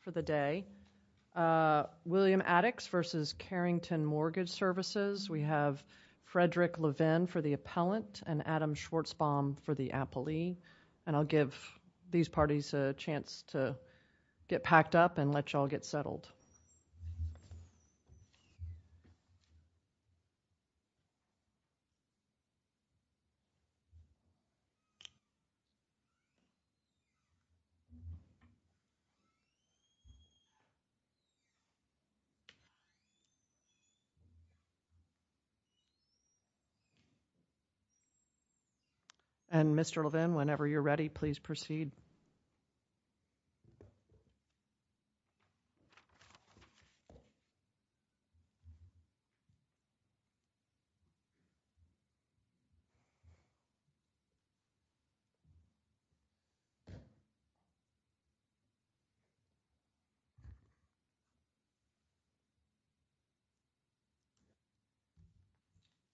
for the day. William Attix v. Carrington Mortgage Services. We have Frederick Levin for the appellant and Adam Schwartzbaum for the appellee. And I'll give these parties a chance to get ready. And Mr. Levin, whenever you're ready, please proceed.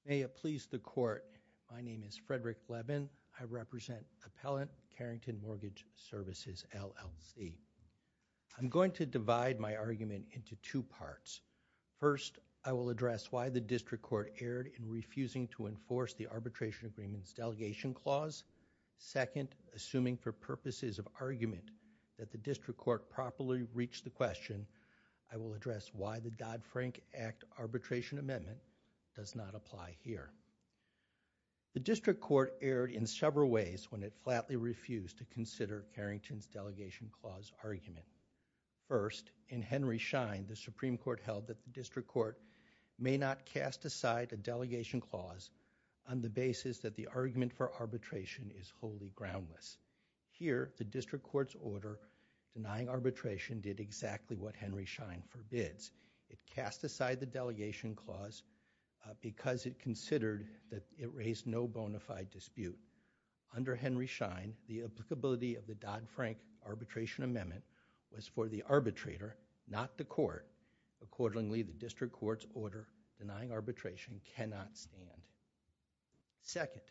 May it please the Court, my name is Frederick Levin. I represent Appellant Carrington Mortgage Services, LLC. I'm going to divide my argument into two parts. First, I will address why the District Court erred in refusing to enforce the Arbitration Agreements Delegation Clause. Second, assuming for purposes of argument that the District Court properly reached the question, I will address why the Dodd-Frank Act Arbitration Amendment does not apply here. The District Court erred in several ways when it flatly refused to consider Carrington's Delegation Clause argument. First, in Henry Schein, the Supreme Court held that the District Court may not cast aside a Delegation Clause on the basis that the argument for arbitration is wholly groundless. Here, the District Court's order denying arbitration did exactly what Henry Schein did. The District Court's order denying arbitration cannot stand. Second,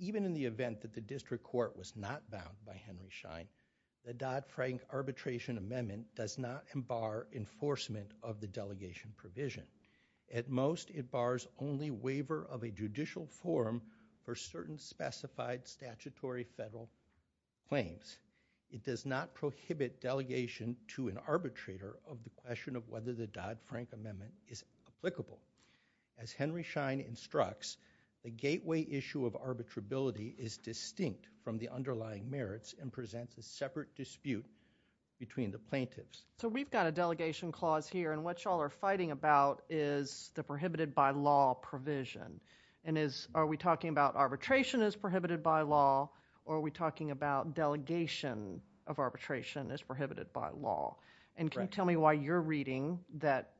even in the event that the District Court was not bound by Henry Schein, the Dodd-Frank Arbitration Amendment does not embark enforcement of the delegation provision. At most, it bars only waiver of a judicial forum for certain specified statutory federal claims. It does not prohibit delegation to an arbitrator of the question of whether the Dodd-Frank Amendment is applicable. As Henry Schein instructs, the gateway issue of arbitrability is distinct from the underlying merits and presents a separate dispute between the plaintiffs. So we've got a Delegation Clause here, and what y'all are fighting about is the prohibited by law provision. Are we talking about arbitration as prohibited by law, or are we talking about delegation of arbitration as prohibited by law? Can you tell me why you're reading that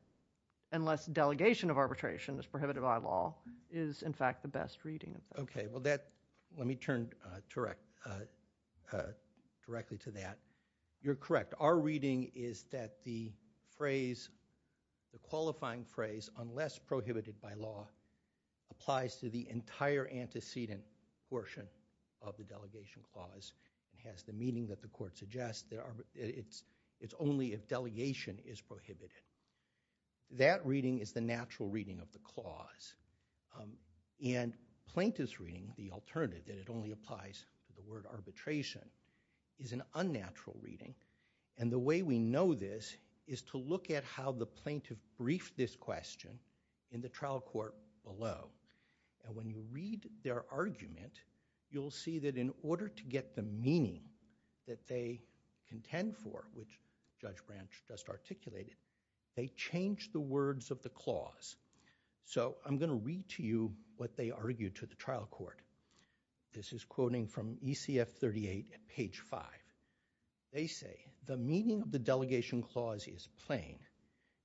unless delegation of arbitration is prohibited by law, is in fact the best reading? Okay, well that, let me turn directly to that. You're correct. Our reading is that the phrase, the qualifying phrase, unless prohibited by law, applies to the entire antecedent portion of the Delegation Clause. It has the meaning that the court suggests. It's only if delegation is prohibited. That reading is the natural reading of the clause. And plaintiff's reading, the alternative that it only applies to the word arbitration, is an unnatural reading. And the way we know this is to look at how the plaintiff briefed this question in the trial court below. And when you read their argument, you'll see that in order to get the meaning that they contend for, which Judge Branch just articulated, they changed the words of the clause. So I'm going to read to you what they argued to the trial court. This is quoting from ECF 38 at page 5. They say, the meaning of the Delegation Clause is plain.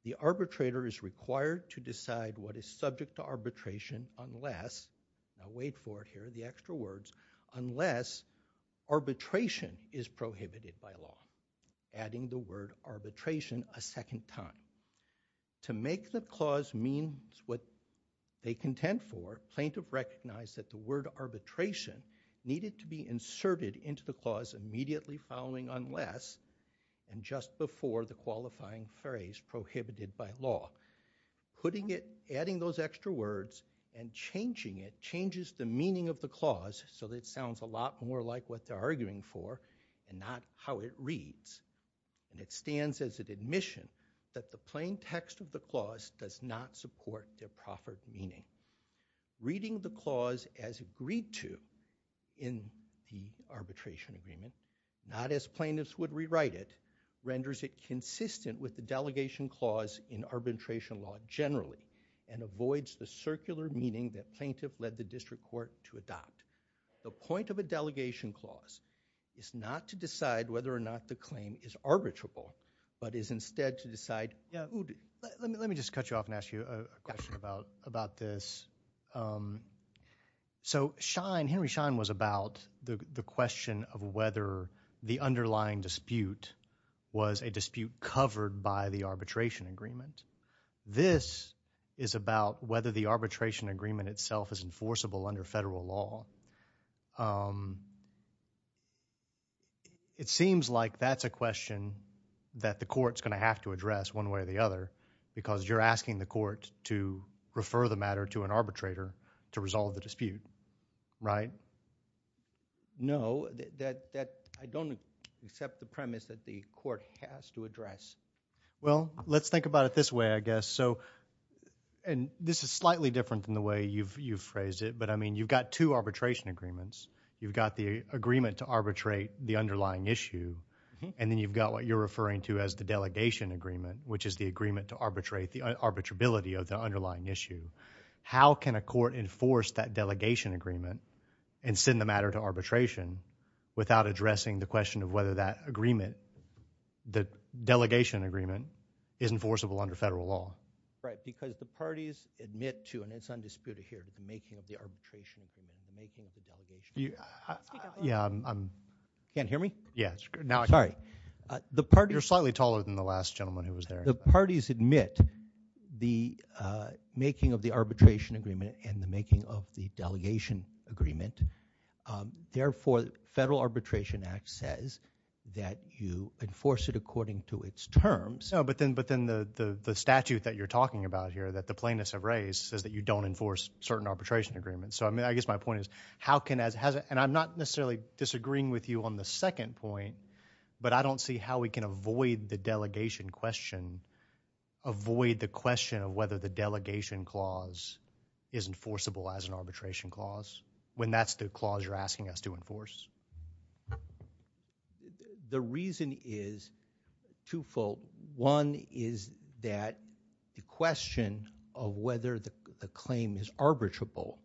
The arbitrator is required to decide what is subject to arbitration unless, now wait for it, here are the extra words, unless arbitration is prohibited by law. Adding the word arbitration a second time. To make the clause mean what they contend for, plaintiff recognized that the word arbitration needed to be inserted into the clause immediately following unless, and just before the qualifying phrase prohibited by law. Putting it, adding those extra words and changing it, changes the meaning of the clause so that it sounds a lot more like what they're arguing for and not how it reads. And it stands as an admission that the plain text of the clause does not support their proffered meaning. Reading the clause as agreed to in the arbitration agreement, not as plaintiffs would rewrite it, renders it consistent with the Delegation Clause in arbitration law generally, and avoids the circular meaning that plaintiff led the district court to adopt. The point of a Delegation Clause is not to decide whether or not the claim is arbitrable, but is instead to decide. Yeah, let me just cut you off and ask you a question about this. So, Henry Schein was about the question of whether the underlying dispute was a dispute covered by the arbitration agreement. This is about whether the arbitration agreement itself is enforceable under federal law. It seems like that's a question that the court's going to have to address one way or the other because you're asking the court to refer the matter to an arbitrator to resolve the dispute, right? No, I don't accept the premise that the court has to address. Well, let's think about it this way, I guess. So, and this is slightly different than the way you've phrased it, but I mean you've got two arbitration agreements. You've got the agreement to arbitrate the underlying issue and then you've got what you're referring to as the delegation agreement, which is the agreement to arbitrate the arbitrability of the underlying issue. How can a court enforce that delegation agreement and send the matter to arbitration without addressing the question of whether that agreement, the delegation agreement, is enforceable under federal law? Right, because the parties admit to, and it's undisputed here, to the making of the arbitration agreement, the making of the delegation agreement. You can't hear me? Yes. Sorry. You're slightly taller than the last gentleman who was there. The parties admit the making of the arbitration act says that you enforce it according to its terms. No, but then the statute that you're talking about here that the plaintiffs have raised says that you don't enforce certain arbitration agreements. So, I mean, I guess my point is how can, and I'm not necessarily disagreeing with you on the second point, but I don't see how we can avoid the delegation question, avoid the question of whether the delegation clause is enforceable as an arbitration clause when that's the clause you're asking us to enforce. The reason is twofold. One is that the question of whether the claim is arbitrable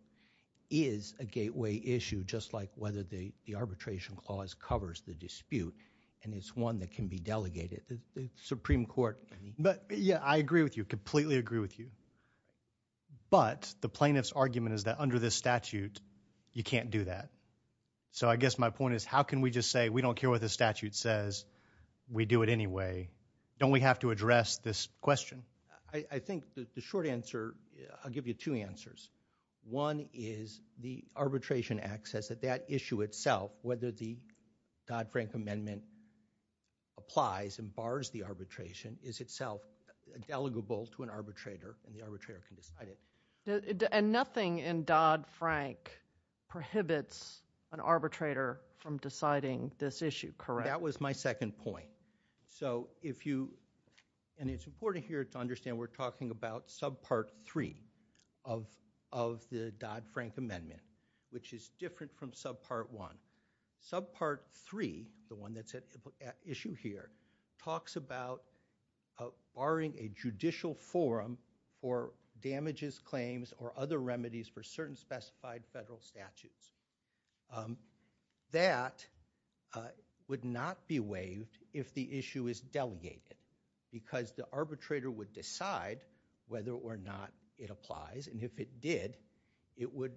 is a gateway issue, just like whether the arbitration clause covers the dispute, and it's one that can be delegated. The Supreme Court. But, yeah, I agree with you, completely agree with you, but the plaintiff's argument is that under this statute you can't do that. So, I guess my point is how can we just say we don't care what the statute says, we do it anyway. Don't we have to address this question? I think the short answer, I'll give you two answers. One is the arbitration act says that that issue itself, whether the Dodd-Frank amendment applies and bars the arbitrator, and the arbitrator can decide it. And nothing in Dodd-Frank prohibits an arbitrator from deciding this issue, correct? That was my second point. So, if you, and it's important here to understand we're talking about subpart three of the Dodd-Frank amendment, which is different from subpart one. Subpart three, the one that's at issue here, talks about barring a judicial forum for damages, claims, or other remedies for certain specified federal statutes. That would not be waived if the issue is delegated, because the arbitrator would decide whether or not it applies, and if it did, it would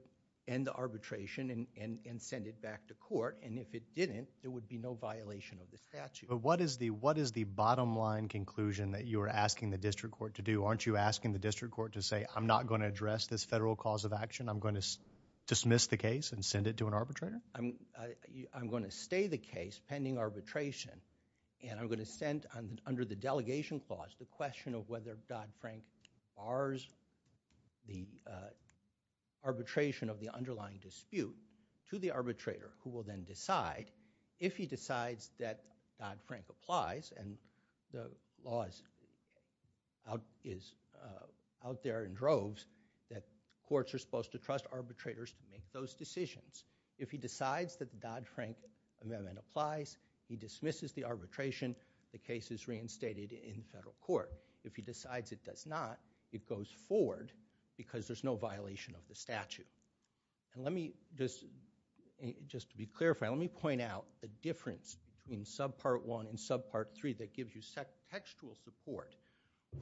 end the arbitration and send it back to court, and if it didn't, there would be no violation of the statute. But what is the bottom line conclusion that you are asking the district court to do? Aren't you asking the district court to say I'm not going to address this federal cause of action, I'm going to dismiss the case and send it to an arbitrator? I'm going to stay the case pending arbitration, and I'm going to send under the delegation clause the question of whether Dodd-Frank bars the arbitration of the underlying dispute to the arbitrator, who will then decide, if he decides that Dodd-Frank applies, and the law is out there in droves, that courts are supposed to trust arbitrators to make those decisions. If he decides that the Dodd-Frank amendment applies, he dismisses the arbitration, the case is reinstated in federal court. If he decides it does not, it goes forward because there's no violation of the statute. And let me just, just to be clear, let me point out the difference between subpart one and subpart three that gives you textual support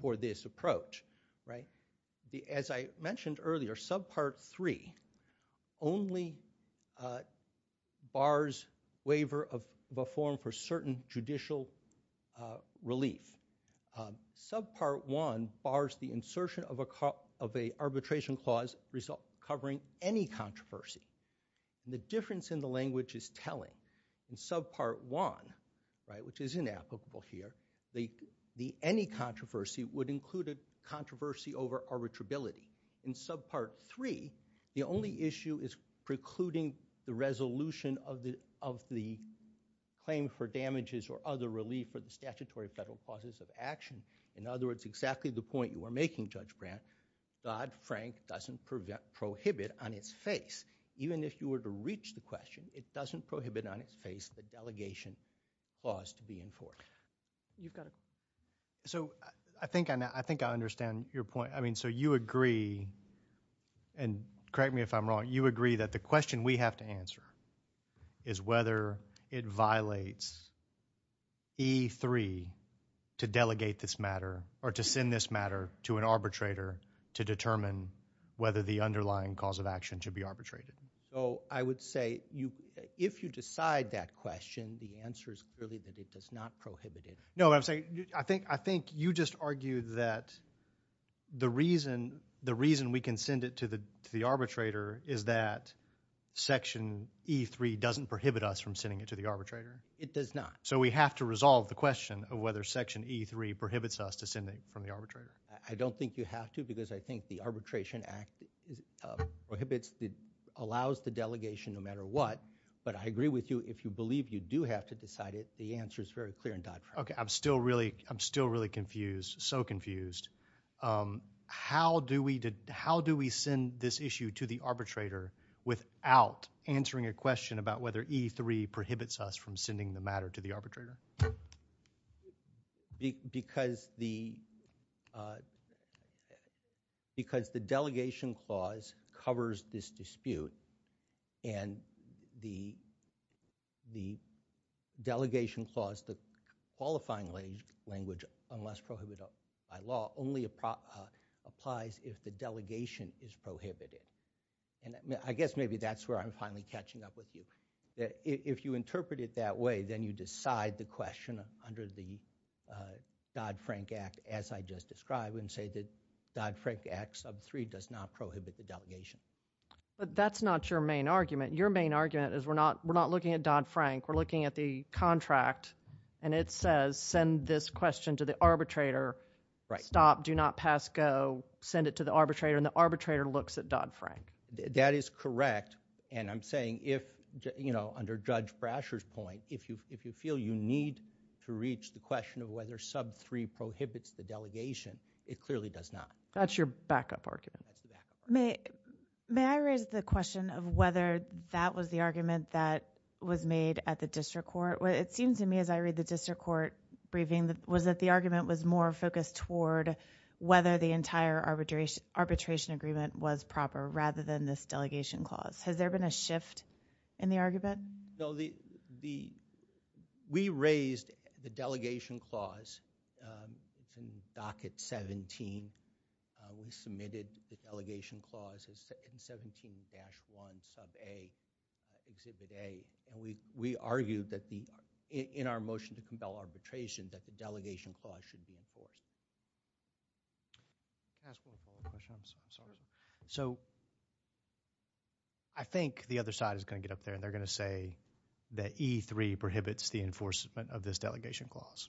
for this approach, right? As I mentioned earlier, subpart three only bars waiver of form for certain judicial relief. Subpart one bars the insertion of a arbitration clause covering any controversy. The difference in the language is telling. In subpart one, right, which is inapplicable here, the any controversy would include a controversy over arbitrability. In subpart three, the only issue is precluding the resolution of the claim for damages or other relief for the statutory federal clauses of action. In other words, exactly the point you were making, Judge Brandt, Dodd-Frank doesn't prohibit on its face, even if you were to reach the question, it doesn't prohibit on its face the delegation clause to be enforced. You've got a... So I think I understand your point. I mean, so you agree, and correct me if I'm wrong, you agree that the question we have to answer is whether it violates E3 to delegate this matter or to send this matter to an arbitrator to determine whether the underlying cause of action should be arbitrated. So I would say if you decide that question, the answer is clearly that it does not prohibit it. No, I'm saying, I think you just argued that the reason we can send it to the arbitrator is that Section E3 doesn't prohibit us from sending it to the arbitrator. It does not. So we have to resolve the question of whether Section E3 prohibits us to send it from the arbitrator. I don't think you have to because I think the Arbitration Act prohibits, allows the delegation no matter what, but I agree with you if you believe you do have to decide it, the answer is very clear in Dodd-Frank. Okay, I'm still really confused, so confused. How do we send this issue to the arbitrator without answering a question about whether E3 prohibits us from sending the matter to the arbitrator? Because the Delegation Clause covers this dispute and the Delegation Clause, the qualifying language, unless prohibited by law, only applies if the delegation is prohibited. And I guess maybe that's where I'm finally catching up with you. If you interpret it that way, then you decide the question under the Dodd-Frank Act, as I just described, and say that Dodd-Frank Act Sub 3 does not prohibit the delegation. But that's not your main argument. Your main argument is we're not looking at Dodd-Frank. We're looking at the contract, and it says send this question to the arbitrator, stop, do not pass, go, send it to the arbitrator, and the arbitrator looks at Dodd-Frank. That is correct, and I'm saying if, you know, under Judge Brasher's point, if you feel you need to reach the question of whether Sub 3 prohibits the delegation, it clearly does not. That's your backup argument. May I raise the question of whether that was the argument that was made at the district court? It seems to me, as I read the district court briefing, was that the argument was more focused toward whether the entire arbitration agreement was proper, rather than this delegation clause. Has there been a shift in the argument? No, we raised the delegation clause from Docket 17. We submitted the delegation clause in 17-1, Sub A, Exhibit A, and we argued that the, in our motion to compel arbitration, that the delegation clause should be enforced. So, I think the other side is going to get up there, and they're going to say that E3 prohibits the enforcement of this delegation clause,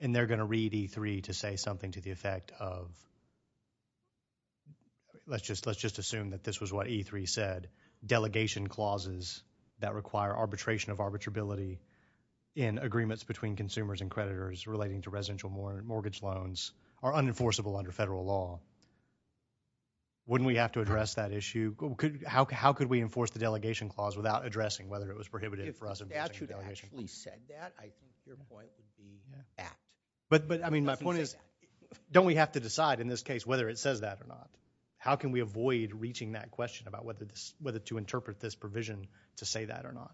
and they're going to read E3 to say something to the effect of, let's just assume that this was what E3 said, delegation clauses that require arbitration of arbitrability in agreements between consumers and creditors relating to residential mortgage loans are unenforceable under federal law. Wouldn't we have to address that issue? How could we enforce the delegation clause without addressing whether it was prohibited for us? If the statute actually said that, I think your point would be fact. But, I mean, my point is, don't we have to decide in this case whether it says that or not? How can we avoid reaching that question about whether to interpret this provision to say that or not?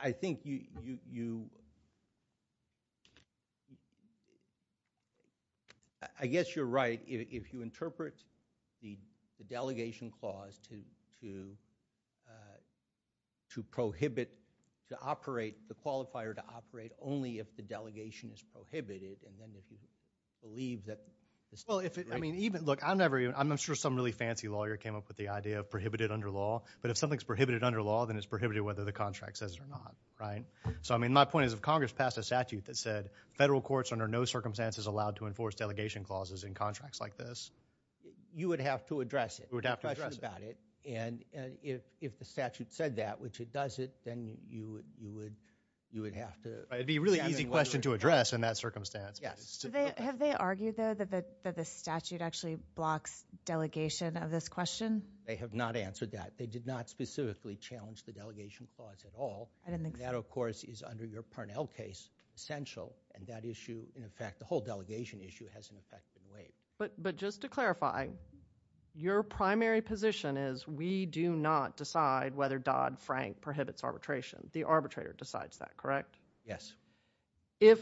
I think you, I guess you're right. If you interpret the delegation clause to prohibit, to operate, the qualifier to operate, only if the delegation is prohibited, and then if you believe that... Look, I'm sure some really fancy lawyer came up with the idea of prohibited under law, but if something's prohibited under law, then it's prohibited whether the contract says it or not, right? So, I mean, my point is, if Congress passed a statute that said federal courts under no circumstances allowed to enforce delegation clauses in contracts like this... You would have to address it. You would have to address it. And if the statute said that, which it doesn't, then you would have to... It would be a really easy question to address in that circumstance. Have they argued, though, that the statute actually blocks delegation of this question? They have not answered that. They did not specifically challenge the delegation clause at all. And that, of course, is under your Parnell case essential. And that issue, in effect, the whole delegation issue has an effect in a way. But just to clarify, your primary position is we do not decide whether Dodd-Frank prohibits arbitration. The arbitrator decides that, correct? Yes. If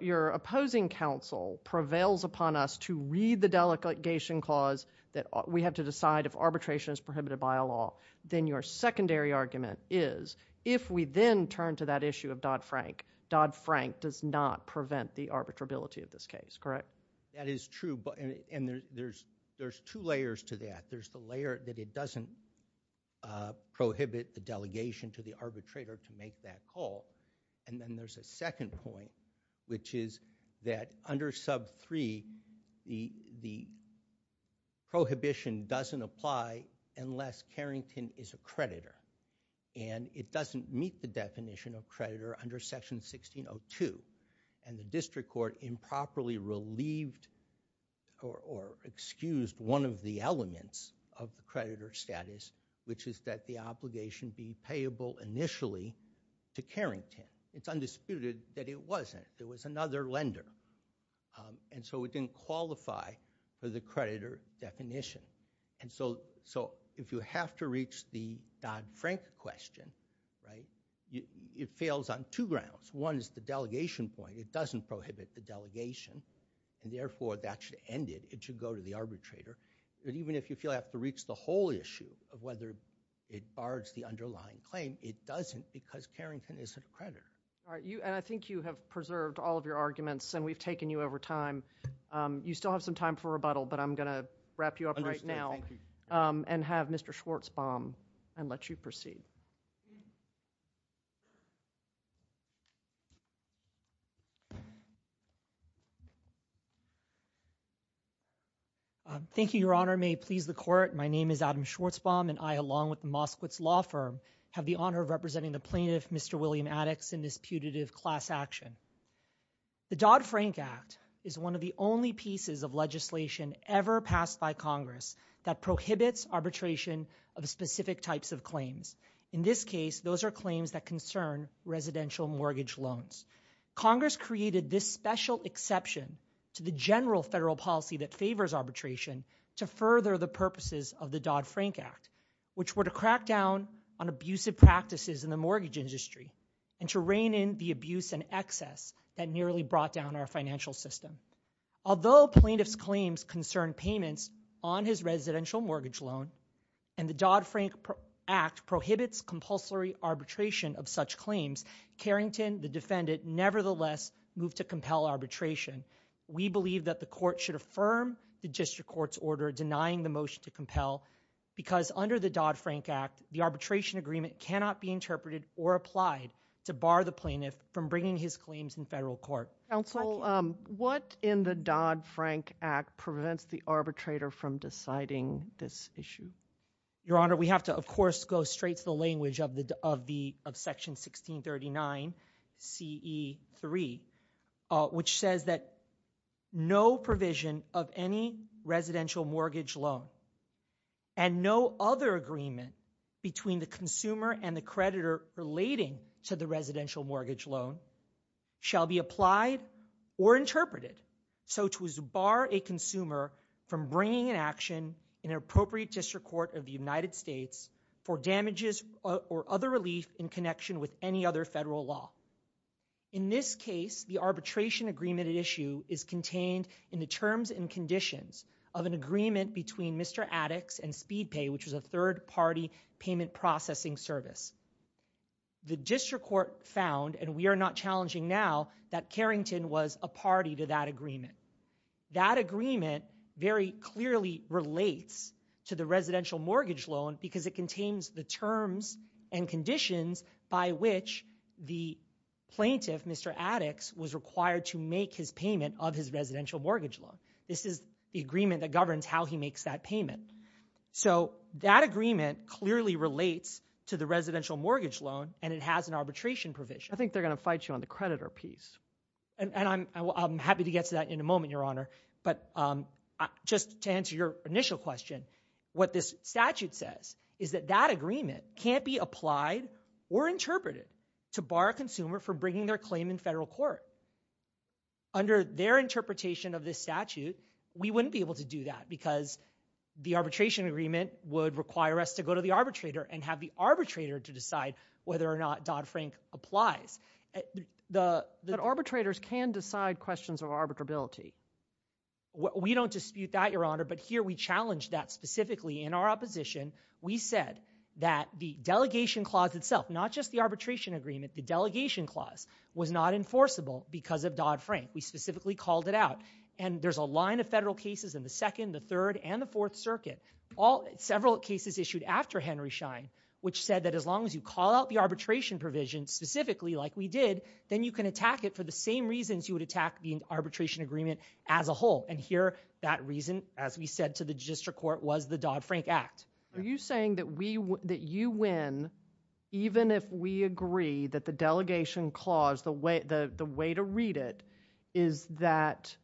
your opposing counsel prevails upon us to read the delegation clause that we have to decide if arbitration is prohibited by a law, then your secondary argument is if we then turn to that issue of Dodd-Frank, Dodd-Frank does not prevent the arbitrability of this case, correct? That is true. And there's two layers to that. There's the layer that it doesn't prohibit the delegation to the arbitrator to make that call. And then there's a second point, which is that under sub 3, the prohibition doesn't apply unless Carrington is a creditor. And it doesn't meet the definition of creditor under section 1602. And the district court improperly relieved or excused one of the elements of the creditor status, which is that the obligation be payable initially to Carrington. It's undisputed that it wasn't. There was another lender. And so it didn't qualify for the creditor definition. And so if you have to reach the Dodd-Frank question, right, it fails on two grounds. One is the delegation point. It doesn't prohibit the delegation. And therefore, that should end it. It should go to the arbitrator. But even if you feel you have to reach the whole issue of whether it bars the underlying claim, it doesn't because Carrington isn't a creditor. All right. And I think you have preserved all of your arguments, and we've taken you over time. You still have some time for rebuttal, but I'm going to wrap you up right now and have Mr. Schwartzbaum and let you proceed. Thank you. Thank you, Your Honor. May it please the court. My name is Adam Schwartzbaum, and I, along with the Moskowitz Law Firm, have the honor of representing the plaintiff, Mr. William Addox, in this putative class action. The Dodd-Frank Act is one of the only pieces of legislation ever passed by Congress that prohibits arbitration of specific types of claims. In this case, those are claims that concern residential mortgage loans. Congress created this special exception to the general federal policy that favors arbitration to further the purposes of the Dodd-Frank Act, which were to crack down on abusive practices in the mortgage industry and to rein in the abuse and excess that nearly brought down our financial system. Although plaintiff's claims concern payments on his residential mortgage loan and the Dodd-Frank Act prohibits compulsory arbitration of such claims, Carrington, the defendant, nevertheless moved to compel arbitration. We believe that the court should affirm the district court's order denying the motion to compel because under the Dodd-Frank Act, the arbitration agreement cannot be interpreted or applied to bar the plaintiff from bringing his claims in federal court. Counsel, what in the Dodd-Frank Act prevents the arbitrator from deciding this issue? Your Honor, we have to, of course, go straight to the language of Section 1639CE3, which says that no provision of any residential mortgage loan and no other agreement between the consumer and the creditor relating to the residential mortgage loan shall be applied or interpreted so as to bar a consumer from bringing an action in an appropriate district court of the United States for damages or other relief in connection with any other federal law. In this case, the arbitration agreement at issue is contained in the terms and conditions of an agreement between Mr. Addix and Speed Pay, which is a third-party payment processing service. The district court found, and we are not challenging now, that Carrington was a party to that agreement. That agreement very clearly relates to the residential mortgage loan because it contains the terms and conditions by which the plaintiff, Mr. Addix, was required to make his payment of his residential mortgage loan. This is the agreement that governs how he makes that payment. So that agreement clearly relates to the residential mortgage loan, and it has an arbitration provision. I think they're going to fight you on the creditor piece. And I'm happy to get to that in a moment, Your Honor. But just to answer your initial question, what this statute says is that that agreement can't be applied or interpreted to bar a consumer from bringing their claim in federal court. Under their interpretation of this statute, we wouldn't be able to do that because the arbitration agreement would require us to go to the arbitrator and have the arbitrator to decide whether or not Dodd-Frank applies. But arbitrators can decide questions of arbitrability. We don't dispute that, Your Honor, but here we challenge that specifically in our opposition. We said that the delegation clause itself, not just the arbitration agreement, the delegation clause was not enforceable because of Dodd-Frank. We specifically called it out. And there's a line of federal cases in the Second, the Third, and the Fourth Circuit, several cases issued after Henry Schein, which said that as long as you call out the arbitration provision specifically like we did, then you can attack it for the same reasons you would attack the arbitration agreement as a whole. And here, that reason, as we said to the district court, was the Dodd-Frank Act. Are you saying that you win even if we agree that the delegation clause, the way to read it is that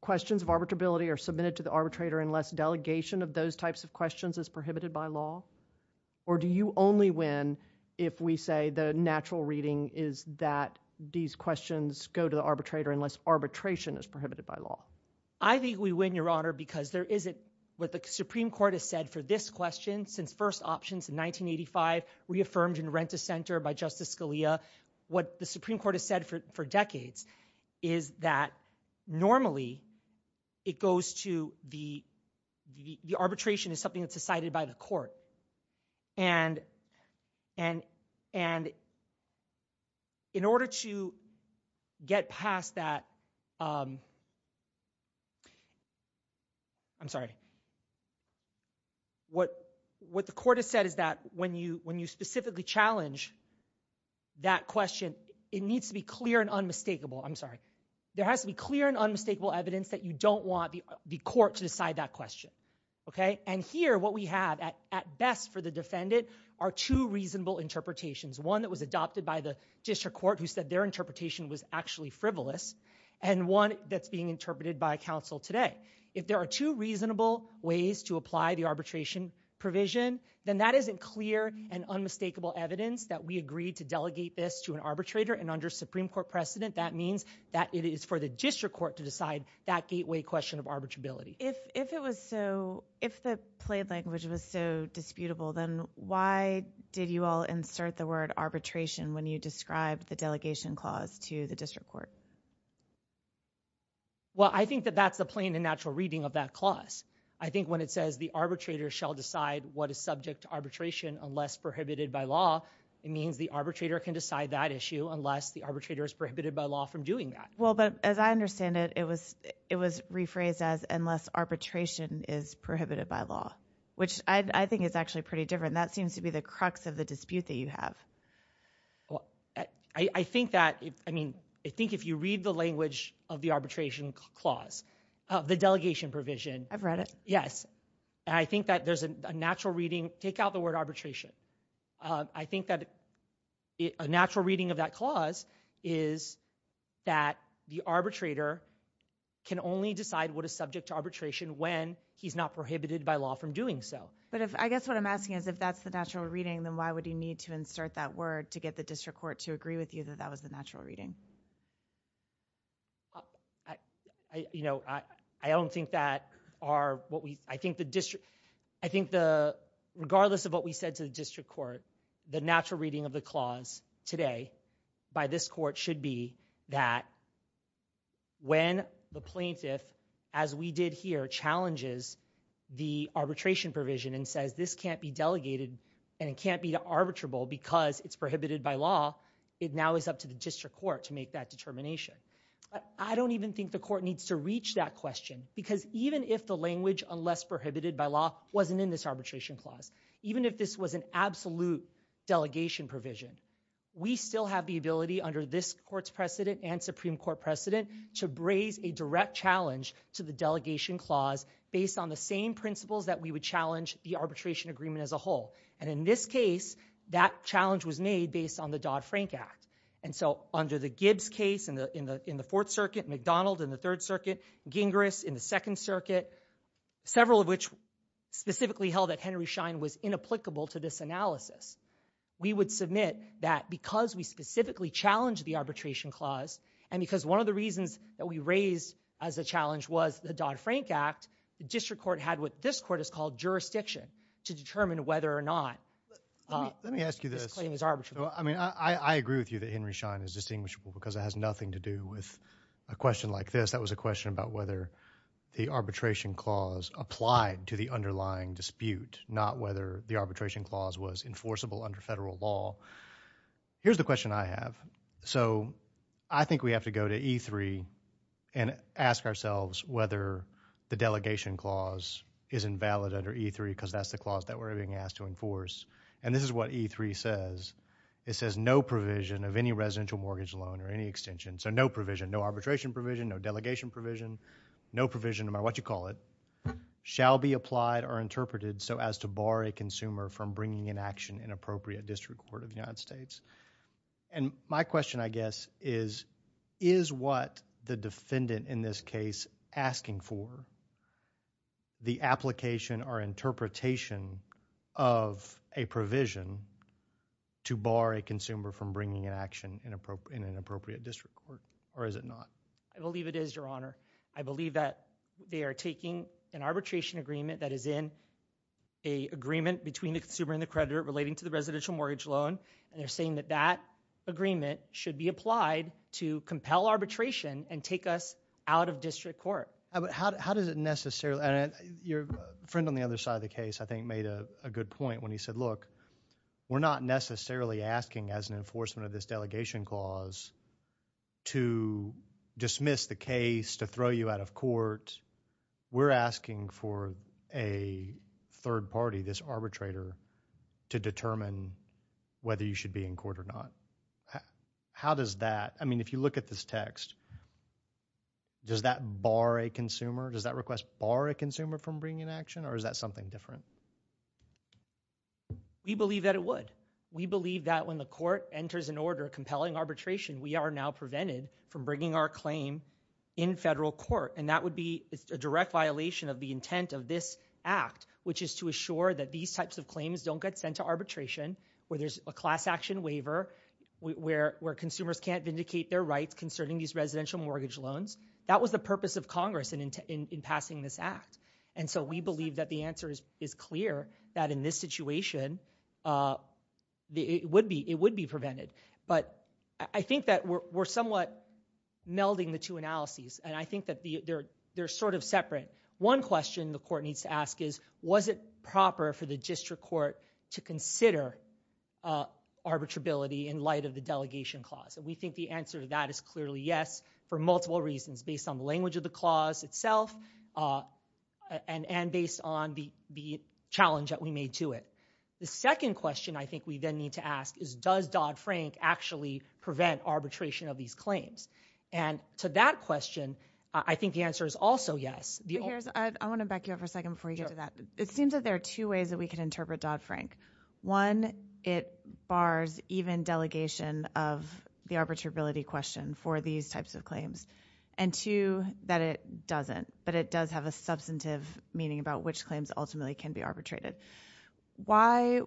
questions of arbitrability are submitted to the arbitrator unless delegation of those types of questions is prohibited by law? Or do you only win if we say the natural reading is that these questions go to the arbitrator unless arbitration is prohibited by law? I think we win, Your Honor, because there isn't what the Supreme Court has said for this question since first options in 1985 reaffirmed in Rent-a-Center by Justice Scalia. What the Supreme Court has said for decades is that normally it goes to the, the arbitration is something that's decided by the court. And in order to get past that, I'm sorry, what the court has said is that when you specifically challenge that question, it needs to be clear and unmistakable. I'm sorry. There has to be clear and unmistakable evidence that you don't want the court to decide that question. And here, what we have at best for the defendant are two reasonable interpretations, one that was adopted by the district court who said their interpretation was actually frivolous, and one that's being interpreted by counsel today. If there are two reasonable ways to apply the arbitration provision, then that isn't clear and unmistakable evidence that we agreed to delegate this to an arbitrator. And under Supreme Court precedent, that means that it is for the district court to decide that gateway question of arbitrability. If it was so, if the plain language was so disputable, then why did you all insert the word arbitration when you described the delegation clause to the district court? Well, I think that that's the plain and natural reading of that clause. I think when it says the arbitrator shall decide what is subject to arbitration unless prohibited by law, it means the arbitrator can decide that issue unless the arbitrator is prohibited by law from doing that. Well, but as I understand it, it was rephrased as unless arbitration is prohibited by law, which I think is actually pretty different. That seems to be the crux of the dispute that you have. Well, I think that, I mean, I think if you read the language of the arbitration clause, the delegation provision. I've read it. Yes. I think that there's a natural reading. Take out the word arbitration. I think that a natural reading of that clause is that the arbitrator can only decide what is subject to arbitration when he's not prohibited by law from doing so. But I guess what I'm asking is if that's the natural reading, then why would you need to insert that word to get the district court to agree with you that that was the natural reading? You know, I don't think that our, what we, I think the district, I think the, regardless of what we said to the district court, the natural reading of the clause today by this court should be that when the plaintiff, as we did here, challenges the arbitration provision and says this can't be delegated and it can't be arbitrable because it's prohibited by law, it now is up to the district court to make that determination. But I don't even think the court needs to reach that question because even if the language, unless prohibited by law, wasn't in this arbitration clause, even if this was an absolute delegation provision, we still have the ability under this court's precedent and Supreme Court precedent to raise a direct challenge to the delegation clause based on the same principles that we would challenge the arbitration agreement as a whole. And in this case, that challenge was made based on the Dodd-Frank Act. And so under the Gibbs case in the Fourth Circuit, McDonald in the Third Circuit, Gingras in the Second Circuit, several of which specifically held that Henry Schein was inapplicable to this analysis, we would submit that because we specifically challenged the arbitration clause and because one of the reasons that we raised as a challenge was the Dodd-Frank Act, the district court had what this court has called jurisdiction to determine whether or not this claim is arbitrable. Let me ask you this. I mean, I agree with you that Henry Schein is distinguishable because it has nothing to do with a question like this. That was a question about whether the arbitration clause applied to the underlying dispute, not whether the arbitration clause was enforceable under federal law. Here's the question I have. So I think we have to go to E3 and ask ourselves whether the delegation clause is invalid under E3 because that's the clause that we're being asked to enforce. And this is what E3 says. It says no provision of any residential mortgage loan or any extension, so no provision, no arbitration provision, no delegation provision, no provision no matter what you call it, shall be applied or interpreted so as to bar a consumer from bringing in action in appropriate district court of the United States. And my question I guess is, is what the defendant in this case asking for the application or interpretation of a provision to bar a consumer from bringing an action in an appropriate district court, or is it not? I believe it is, Your Honor. I believe that they are taking an arbitration agreement that is in an agreement between the consumer and the creditor relating to the residential mortgage loan, and they're saying that that agreement should be applied to compel arbitration and take us out of district court. How does it necessarily, and your friend on the other side of the case I think made a good point when he said, look, we're not necessarily asking as an enforcement of this delegation clause to dismiss the case, to throw you out of court. We're asking for a third party, this arbitrator, to determine whether you should be in court or not. How does that, I mean, if you look at this text, does that bar a consumer, does that request bar a consumer from bringing an action, or is that something different? We believe that it would. We believe that when the court enters an order compelling arbitration, we are now prevented from bringing our claim in federal court, and that would be a direct violation of the intent of this act, which is to assure that these types of claims don't get sent to arbitration, where there's a class action waiver, where consumers can't vindicate their rights concerning these residential mortgage loans. That was the purpose of Congress in passing this act, and so we believe that the answer is clear that in this situation it would be prevented. But I think that we're somewhat melding the two analyses, and I think that they're sort of separate. One question the court needs to ask is, was it proper for the district court to consider arbitrability in light of the delegation clause? And we think the answer to that is clearly yes for multiple reasons, based on the language of the clause itself and based on the challenge that we made to it. The second question I think we then need to ask is, does Dodd-Frank actually prevent arbitration of these claims? And to that question, I think the answer is also yes. I want to back you up for a second before you get to that. It seems that there are two ways that we can interpret Dodd-Frank. One, it bars even delegation of the arbitrability question for these types of claims, and two, that it doesn't, but it does have a substantive meaning about which claims ultimately can be arbitrated. Why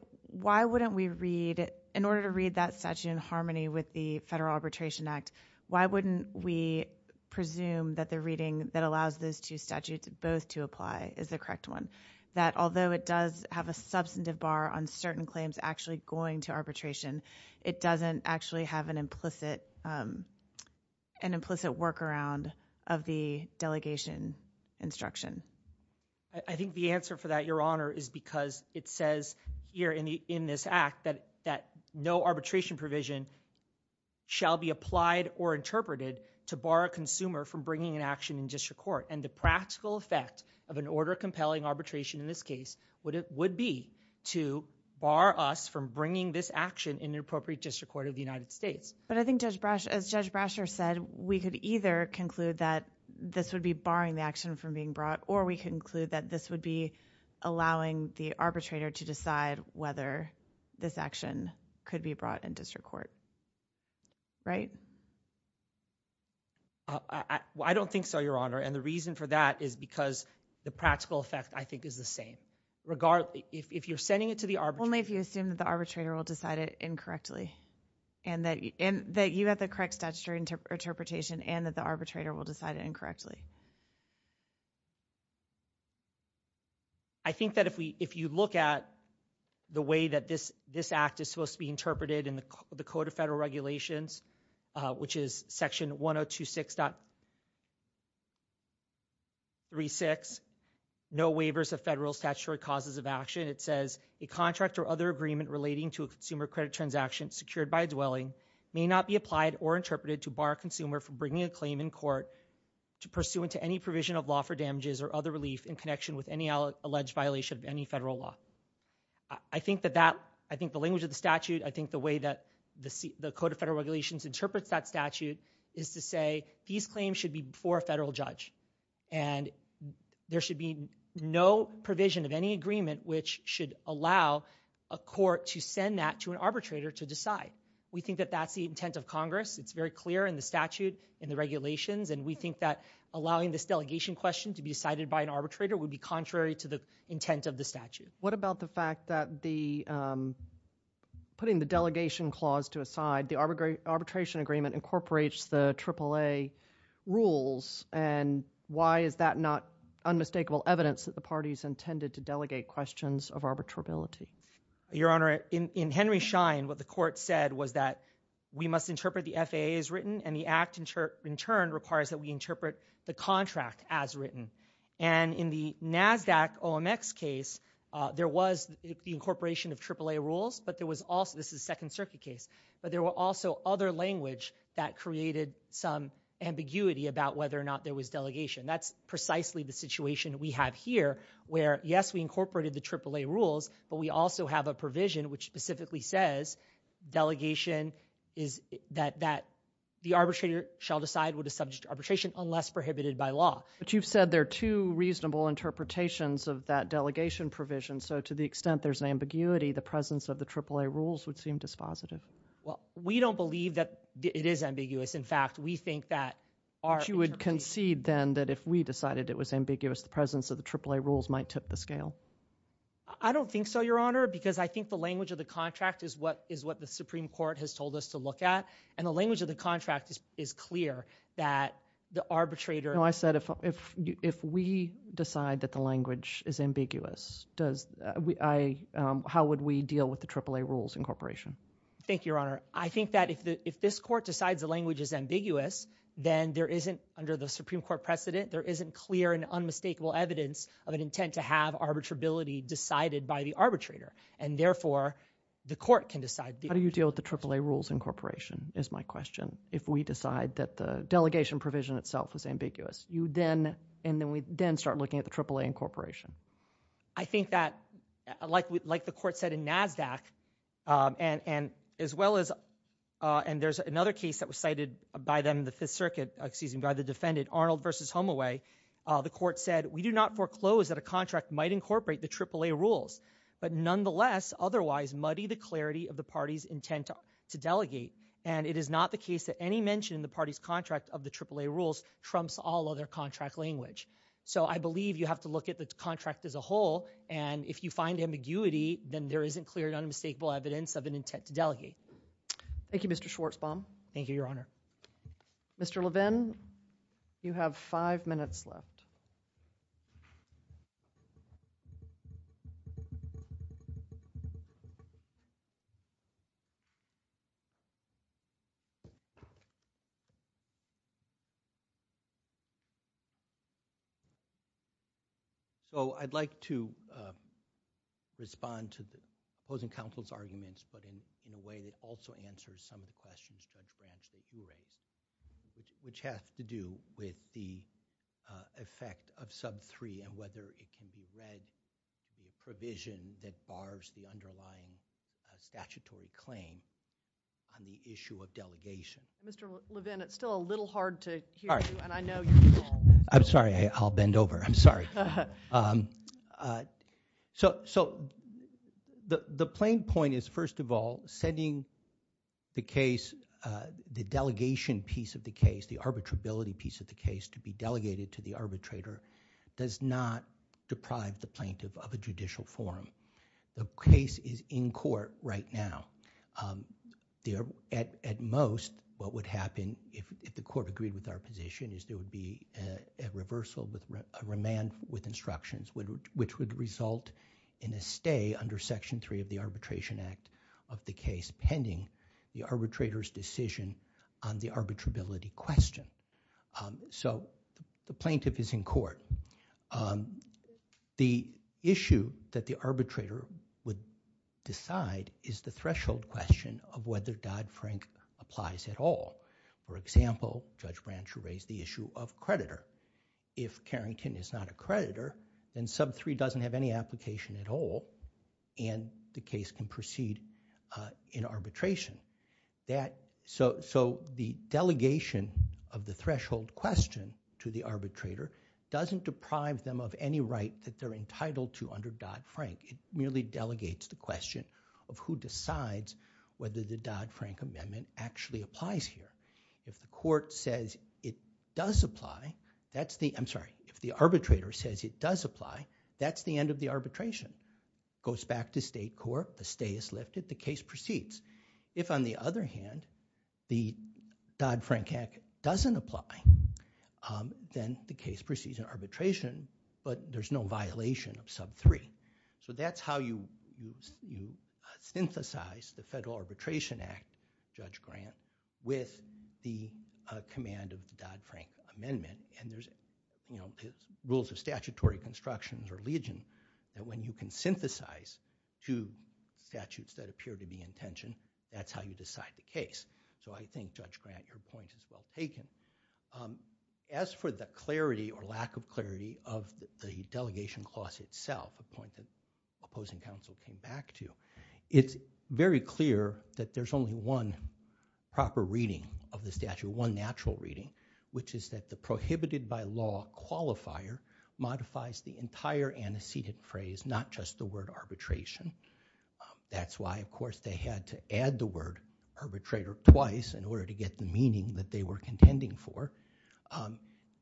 wouldn't we read... In order to read that statute in harmony with the Federal Arbitration Act, why wouldn't we presume that the reading that allows those two statutes both to apply is the correct one? That although it does have a substantive bar on certain claims actually going to arbitration, it doesn't actually have an implicit workaround of the delegation instruction? I think the answer for that, Your Honour, is because it says here in this Act that no arbitration provision shall be applied or interpreted to bar a consumer from bringing an action in district court, and the practical effect of an order-compelling arbitration in this case would be to bar us from bringing this action in an appropriate district court of the United States. But I think, as Judge Brasher said, we could either conclude that this would be barring the action from being brought or we could conclude that this would be allowing the arbitrator to decide whether this action could be brought in district court. Right? I don't think so, Your Honour, and the reason for that is because the practical effect, I think, is the same. If you're sending it to the arbitrator... Only if you assume that the arbitrator will decide it incorrectly and that you have the correct statutory interpretation and that the arbitrator will decide it incorrectly. I think that if you look at the way that this Act is supposed to be interpreted in the Code of Federal Regulations, which is Section 1026.36, no waivers of federal statutory causes of action, it says, a contract or other agreement relating to a consumer credit transaction secured by a dwelling may not be applied or interpreted to bar a consumer from bringing a claim in court pursuant to any provision of law for damages or other relief in connection with any alleged violation of any federal law. I think that that... I think the language of the statute, I think the way that the Code of Federal Regulations interprets that statute is to say these claims should be before a federal judge and there should be no provision of any agreement which should allow a court to send that to an arbitrator to decide. We think that that's the intent of Congress. It's very clear in the statute and the regulations, and we think that allowing this delegation question to be decided by an arbitrator would be contrary to the intent of the statute. What about the fact that putting the delegation clause to a side, the arbitration agreement incorporates the AAA rules, and why is that not unmistakable evidence that the parties intended to delegate questions of arbitrability? Your Honor, in Henry Schein, what the court said was that we must interpret the FAA as written, and in the NASDAQ-OMX case, there was the incorporation of AAA rules, but there was also... this is a Second Circuit case, but there were also other language that created some ambiguity about whether or not there was delegation. That's precisely the situation we have here, where, yes, we incorporated the AAA rules, but we also have a provision which specifically says delegation is... that the arbitrator shall decide what is subject to arbitration unless prohibited by law. But you've said there are two reasonable interpretations of that delegation provision, so to the extent there's an ambiguity, the presence of the AAA rules would seem dispositive. Well, we don't believe that it is ambiguous. In fact, we think that our interpretation... But you would concede then that if we decided it was ambiguous, the presence of the AAA rules might tip the scale. I don't think so, Your Honor, because I think the language of the contract is what the Supreme Court has told us to look at, and the language of the contract is clear that the arbitrator... No, I said if we decide that the language is ambiguous, how would we deal with the AAA rules incorporation? Thank you, Your Honor. I think that if this court decides the language is ambiguous, then there isn't, under the Supreme Court precedent, there isn't clear and unmistakable evidence of an intent to have arbitrability decided by the arbitrator, and therefore the court can decide... How do you deal with the AAA rules incorporation is my question if we decide that the delegation provision itself was ambiguous? You then... And then we then start looking at the AAA incorporation. I think that, like the court said in NASDAQ, and as well as... And there's another case that was cited by them in the Fifth Circuit, excuse me, by the defendant, Arnold v. Homeaway. The court said, we do not foreclose that a contract might incorporate the AAA rules, but nonetheless, otherwise, muddy the clarity of the party's intent to delegate, and it is not the case that any mention in the party's contract of the AAA rules trumps all other contract language. So I believe you have to look at the contract as a whole, and if you find ambiguity, then there isn't clear and unmistakable evidence of an intent to delegate. Thank you, Mr. Schwartzbaum. Thank you, Your Honor. Mr. Levin, you have five minutes left. So I'd like to respond to the opposing counsel's arguments, but in a way that also answers some of the questions, Judge Branch, that you raised, which has to do with the effect of sub 3 and whether it can be read in the provision that bars the underlying statutory claim on the issue of delegation. Mr. Levin, it's still a little hard to hear you, and I know you can all hear me. I'm sorry. I'll bend over. I'm sorry. So the plain point is, first of all, setting the case, the delegation piece of the case, the arbitrability piece of the case, to be delegated to the arbitrator does not deprive the plaintiff of a judicial forum. The case is in court right now. At most, what would happen, if the court agreed with our position, is there would be a reversal, a remand with instructions, which would result in a stay under Section 3 of the Arbitration Act of the case pending the arbitrator's decision on the arbitrability question. So the plaintiff is in court. The issue that the arbitrator would decide is the threshold question of whether Dodd-Frank applies at all. For example, Judge Branch raised the issue of creditor. If Carrington is not a creditor, then Sub 3 doesn't have any application at all, and the case can proceed in arbitration. So the delegation of the threshold question to the arbitrator doesn't deprive them of any right that they're entitled to under Dodd-Frank. It merely delegates the question of who decides whether the Dodd-Frank Amendment actually applies here. If the court says it does apply, that's the... I'm sorry, if the arbitrator says it does apply, that's the end of the arbitration. Goes back to state court, the stay is lifted, the case proceeds. If, on the other hand, the Dodd-Frank Act doesn't apply, then the case proceeds in arbitration, but there's no violation of Sub 3. So that's how you synthesize the Federal Arbitration Act, Judge Grant, with the command of the Dodd-Frank Amendment. And there's rules of statutory construction or legion that when you can synthesize two statutes that appear to be in tension, that's how you decide the case. So I think, Judge Grant, your point is well taken. As for the clarity or lack of clarity of the delegation clause itself, a point that opposing counsel came back to, it's very clear that there's only one proper reading of the statute, one natural reading, which is that the prohibited by law qualifier modifies the entire antecedent phrase, not just the word arbitration. That's why, of course, they had to add the word arbitrator twice in order to get the meaning that they were contending for.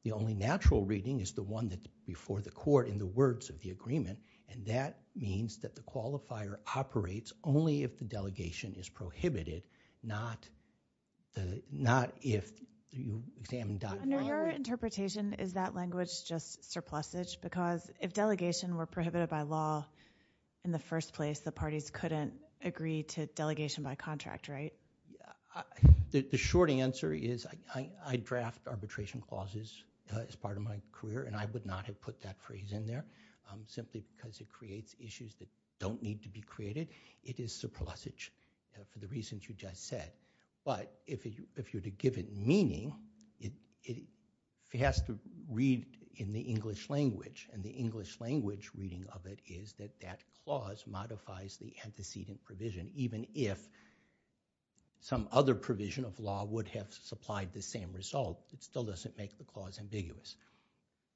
The only natural reading is the one that's before the court in the words of the agreement, and that means that the qualifier operates only if the delegation is prohibited, not if you examine Dodd-Frank. Under your interpretation, is that language just surplusage? Because if delegation were prohibited by law in the first place, the parties couldn't agree to delegation by contract, right? The short answer is I draft arbitration clauses as part of my career, and I would not have put that phrase in there simply because it creates issues that don't need to be created. It is surplusage for the reasons you just said. But if you're to give it meaning, it has to read in the English language, and the English language reading of it is that that clause modifies the antecedent provision, even if some other provision of law would have supplied the same result. It still doesn't make the clause ambiguous.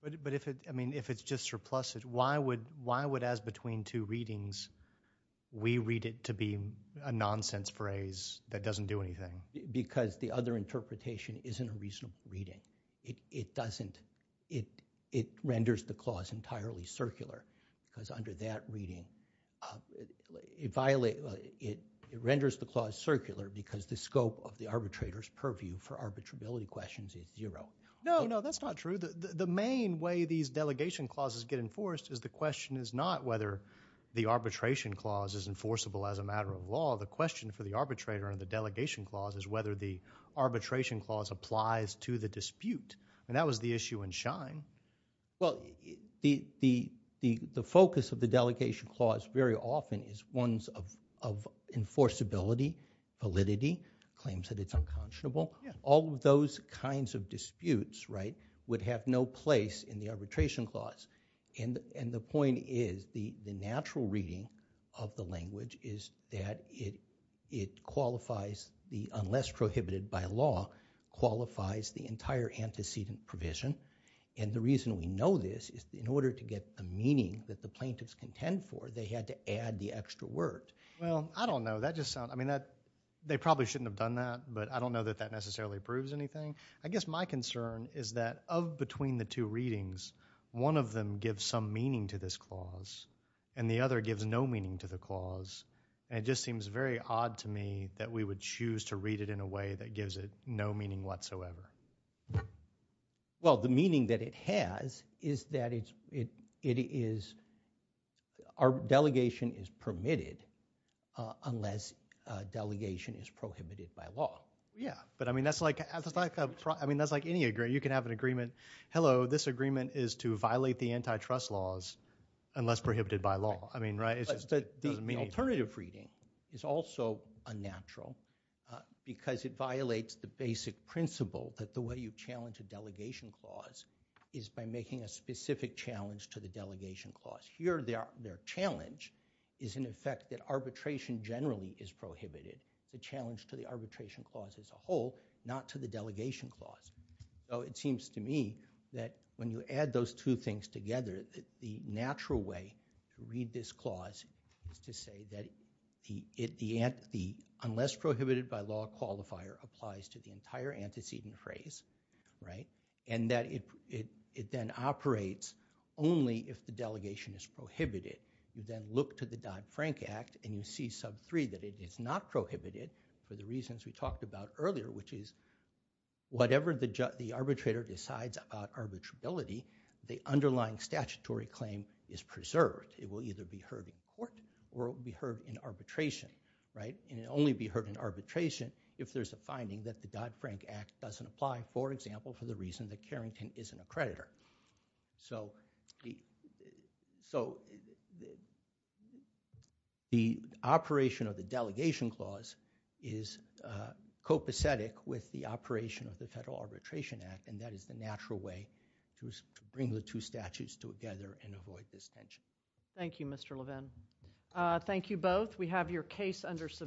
But if it's just surplusage, why would, as between two readings, we read it to be a nonsense phrase that doesn't do anything? Because the other interpretation isn't a reasonable reading. It doesn't. It renders the clause entirely circular because under that reading, it renders the clause circular because the scope of the arbitrator's purview for arbitrability questions is zero. No, no, that's not true. The main way these delegation clauses get enforced is the question is not whether the arbitration clause is enforceable as a matter of law. The question for the arbitrator and the delegation clause is whether the arbitration clause applies to the dispute, and that was the issue in Schein. Well, the focus of the delegation clause very often is ones of enforceability, validity, claims that it's unconscionable. All of those kinds of disputes, right, would have no place in the arbitration clause. And the point is the natural reading of the language is that it qualifies the unless prohibited by law qualifies the entire antecedent provision, and the reason we know this is in order to get the meaning that the plaintiffs contend for, they had to add the extra word. Well, I don't know. That just sounds... I mean, they probably shouldn't have done that, but I don't know that that necessarily proves anything. I guess my concern is that of between the two readings, one of them gives some meaning to this clause and the other gives no meaning to the clause, and it just seems very odd to me that we would choose to read it in a way that gives it no meaning whatsoever. Well, the meaning that it has is that it is... Our delegation is permitted unless delegation is prohibited by law. Yeah, but, I mean, that's like... I mean, that's like any agreement. You can have an agreement, hello, this agreement is to violate the antitrust laws unless prohibited by law. I mean, right, it just doesn't mean anything. But the alternative reading is also unnatural because it violates the basic principle that the way you challenge a delegation clause is by making a specific challenge to the delegation clause. Here, their challenge is, in effect, that arbitration generally is prohibited. The challenge to the arbitration clause as a whole, not to the delegation clause. So it seems to me that when you add those two things together, the natural way to read this clause is to say that unless prohibited by law qualifier applies to the entire antecedent phrase, right? And that it then operates only if the delegation is prohibited. You then look to the Dodd-Frank Act and you see sub 3 that it is not prohibited for the reasons we talked about earlier, which is whatever the arbitrator decides about arbitrability, the underlying statutory claim is preserved. It will either be heard in court or it will be heard in arbitration, right? And it'll only be heard in arbitration if there's a finding that the Dodd-Frank Act doesn't apply, for example, for the reason that Carrington isn't a creditor. The operation of the delegation clause is copacetic with the operation of the Federal Arbitration Act, and that is the natural way to bring the two statutes together and avoid this tension. Thank you, Mr. Levin. Thank you both. We have your case under submission.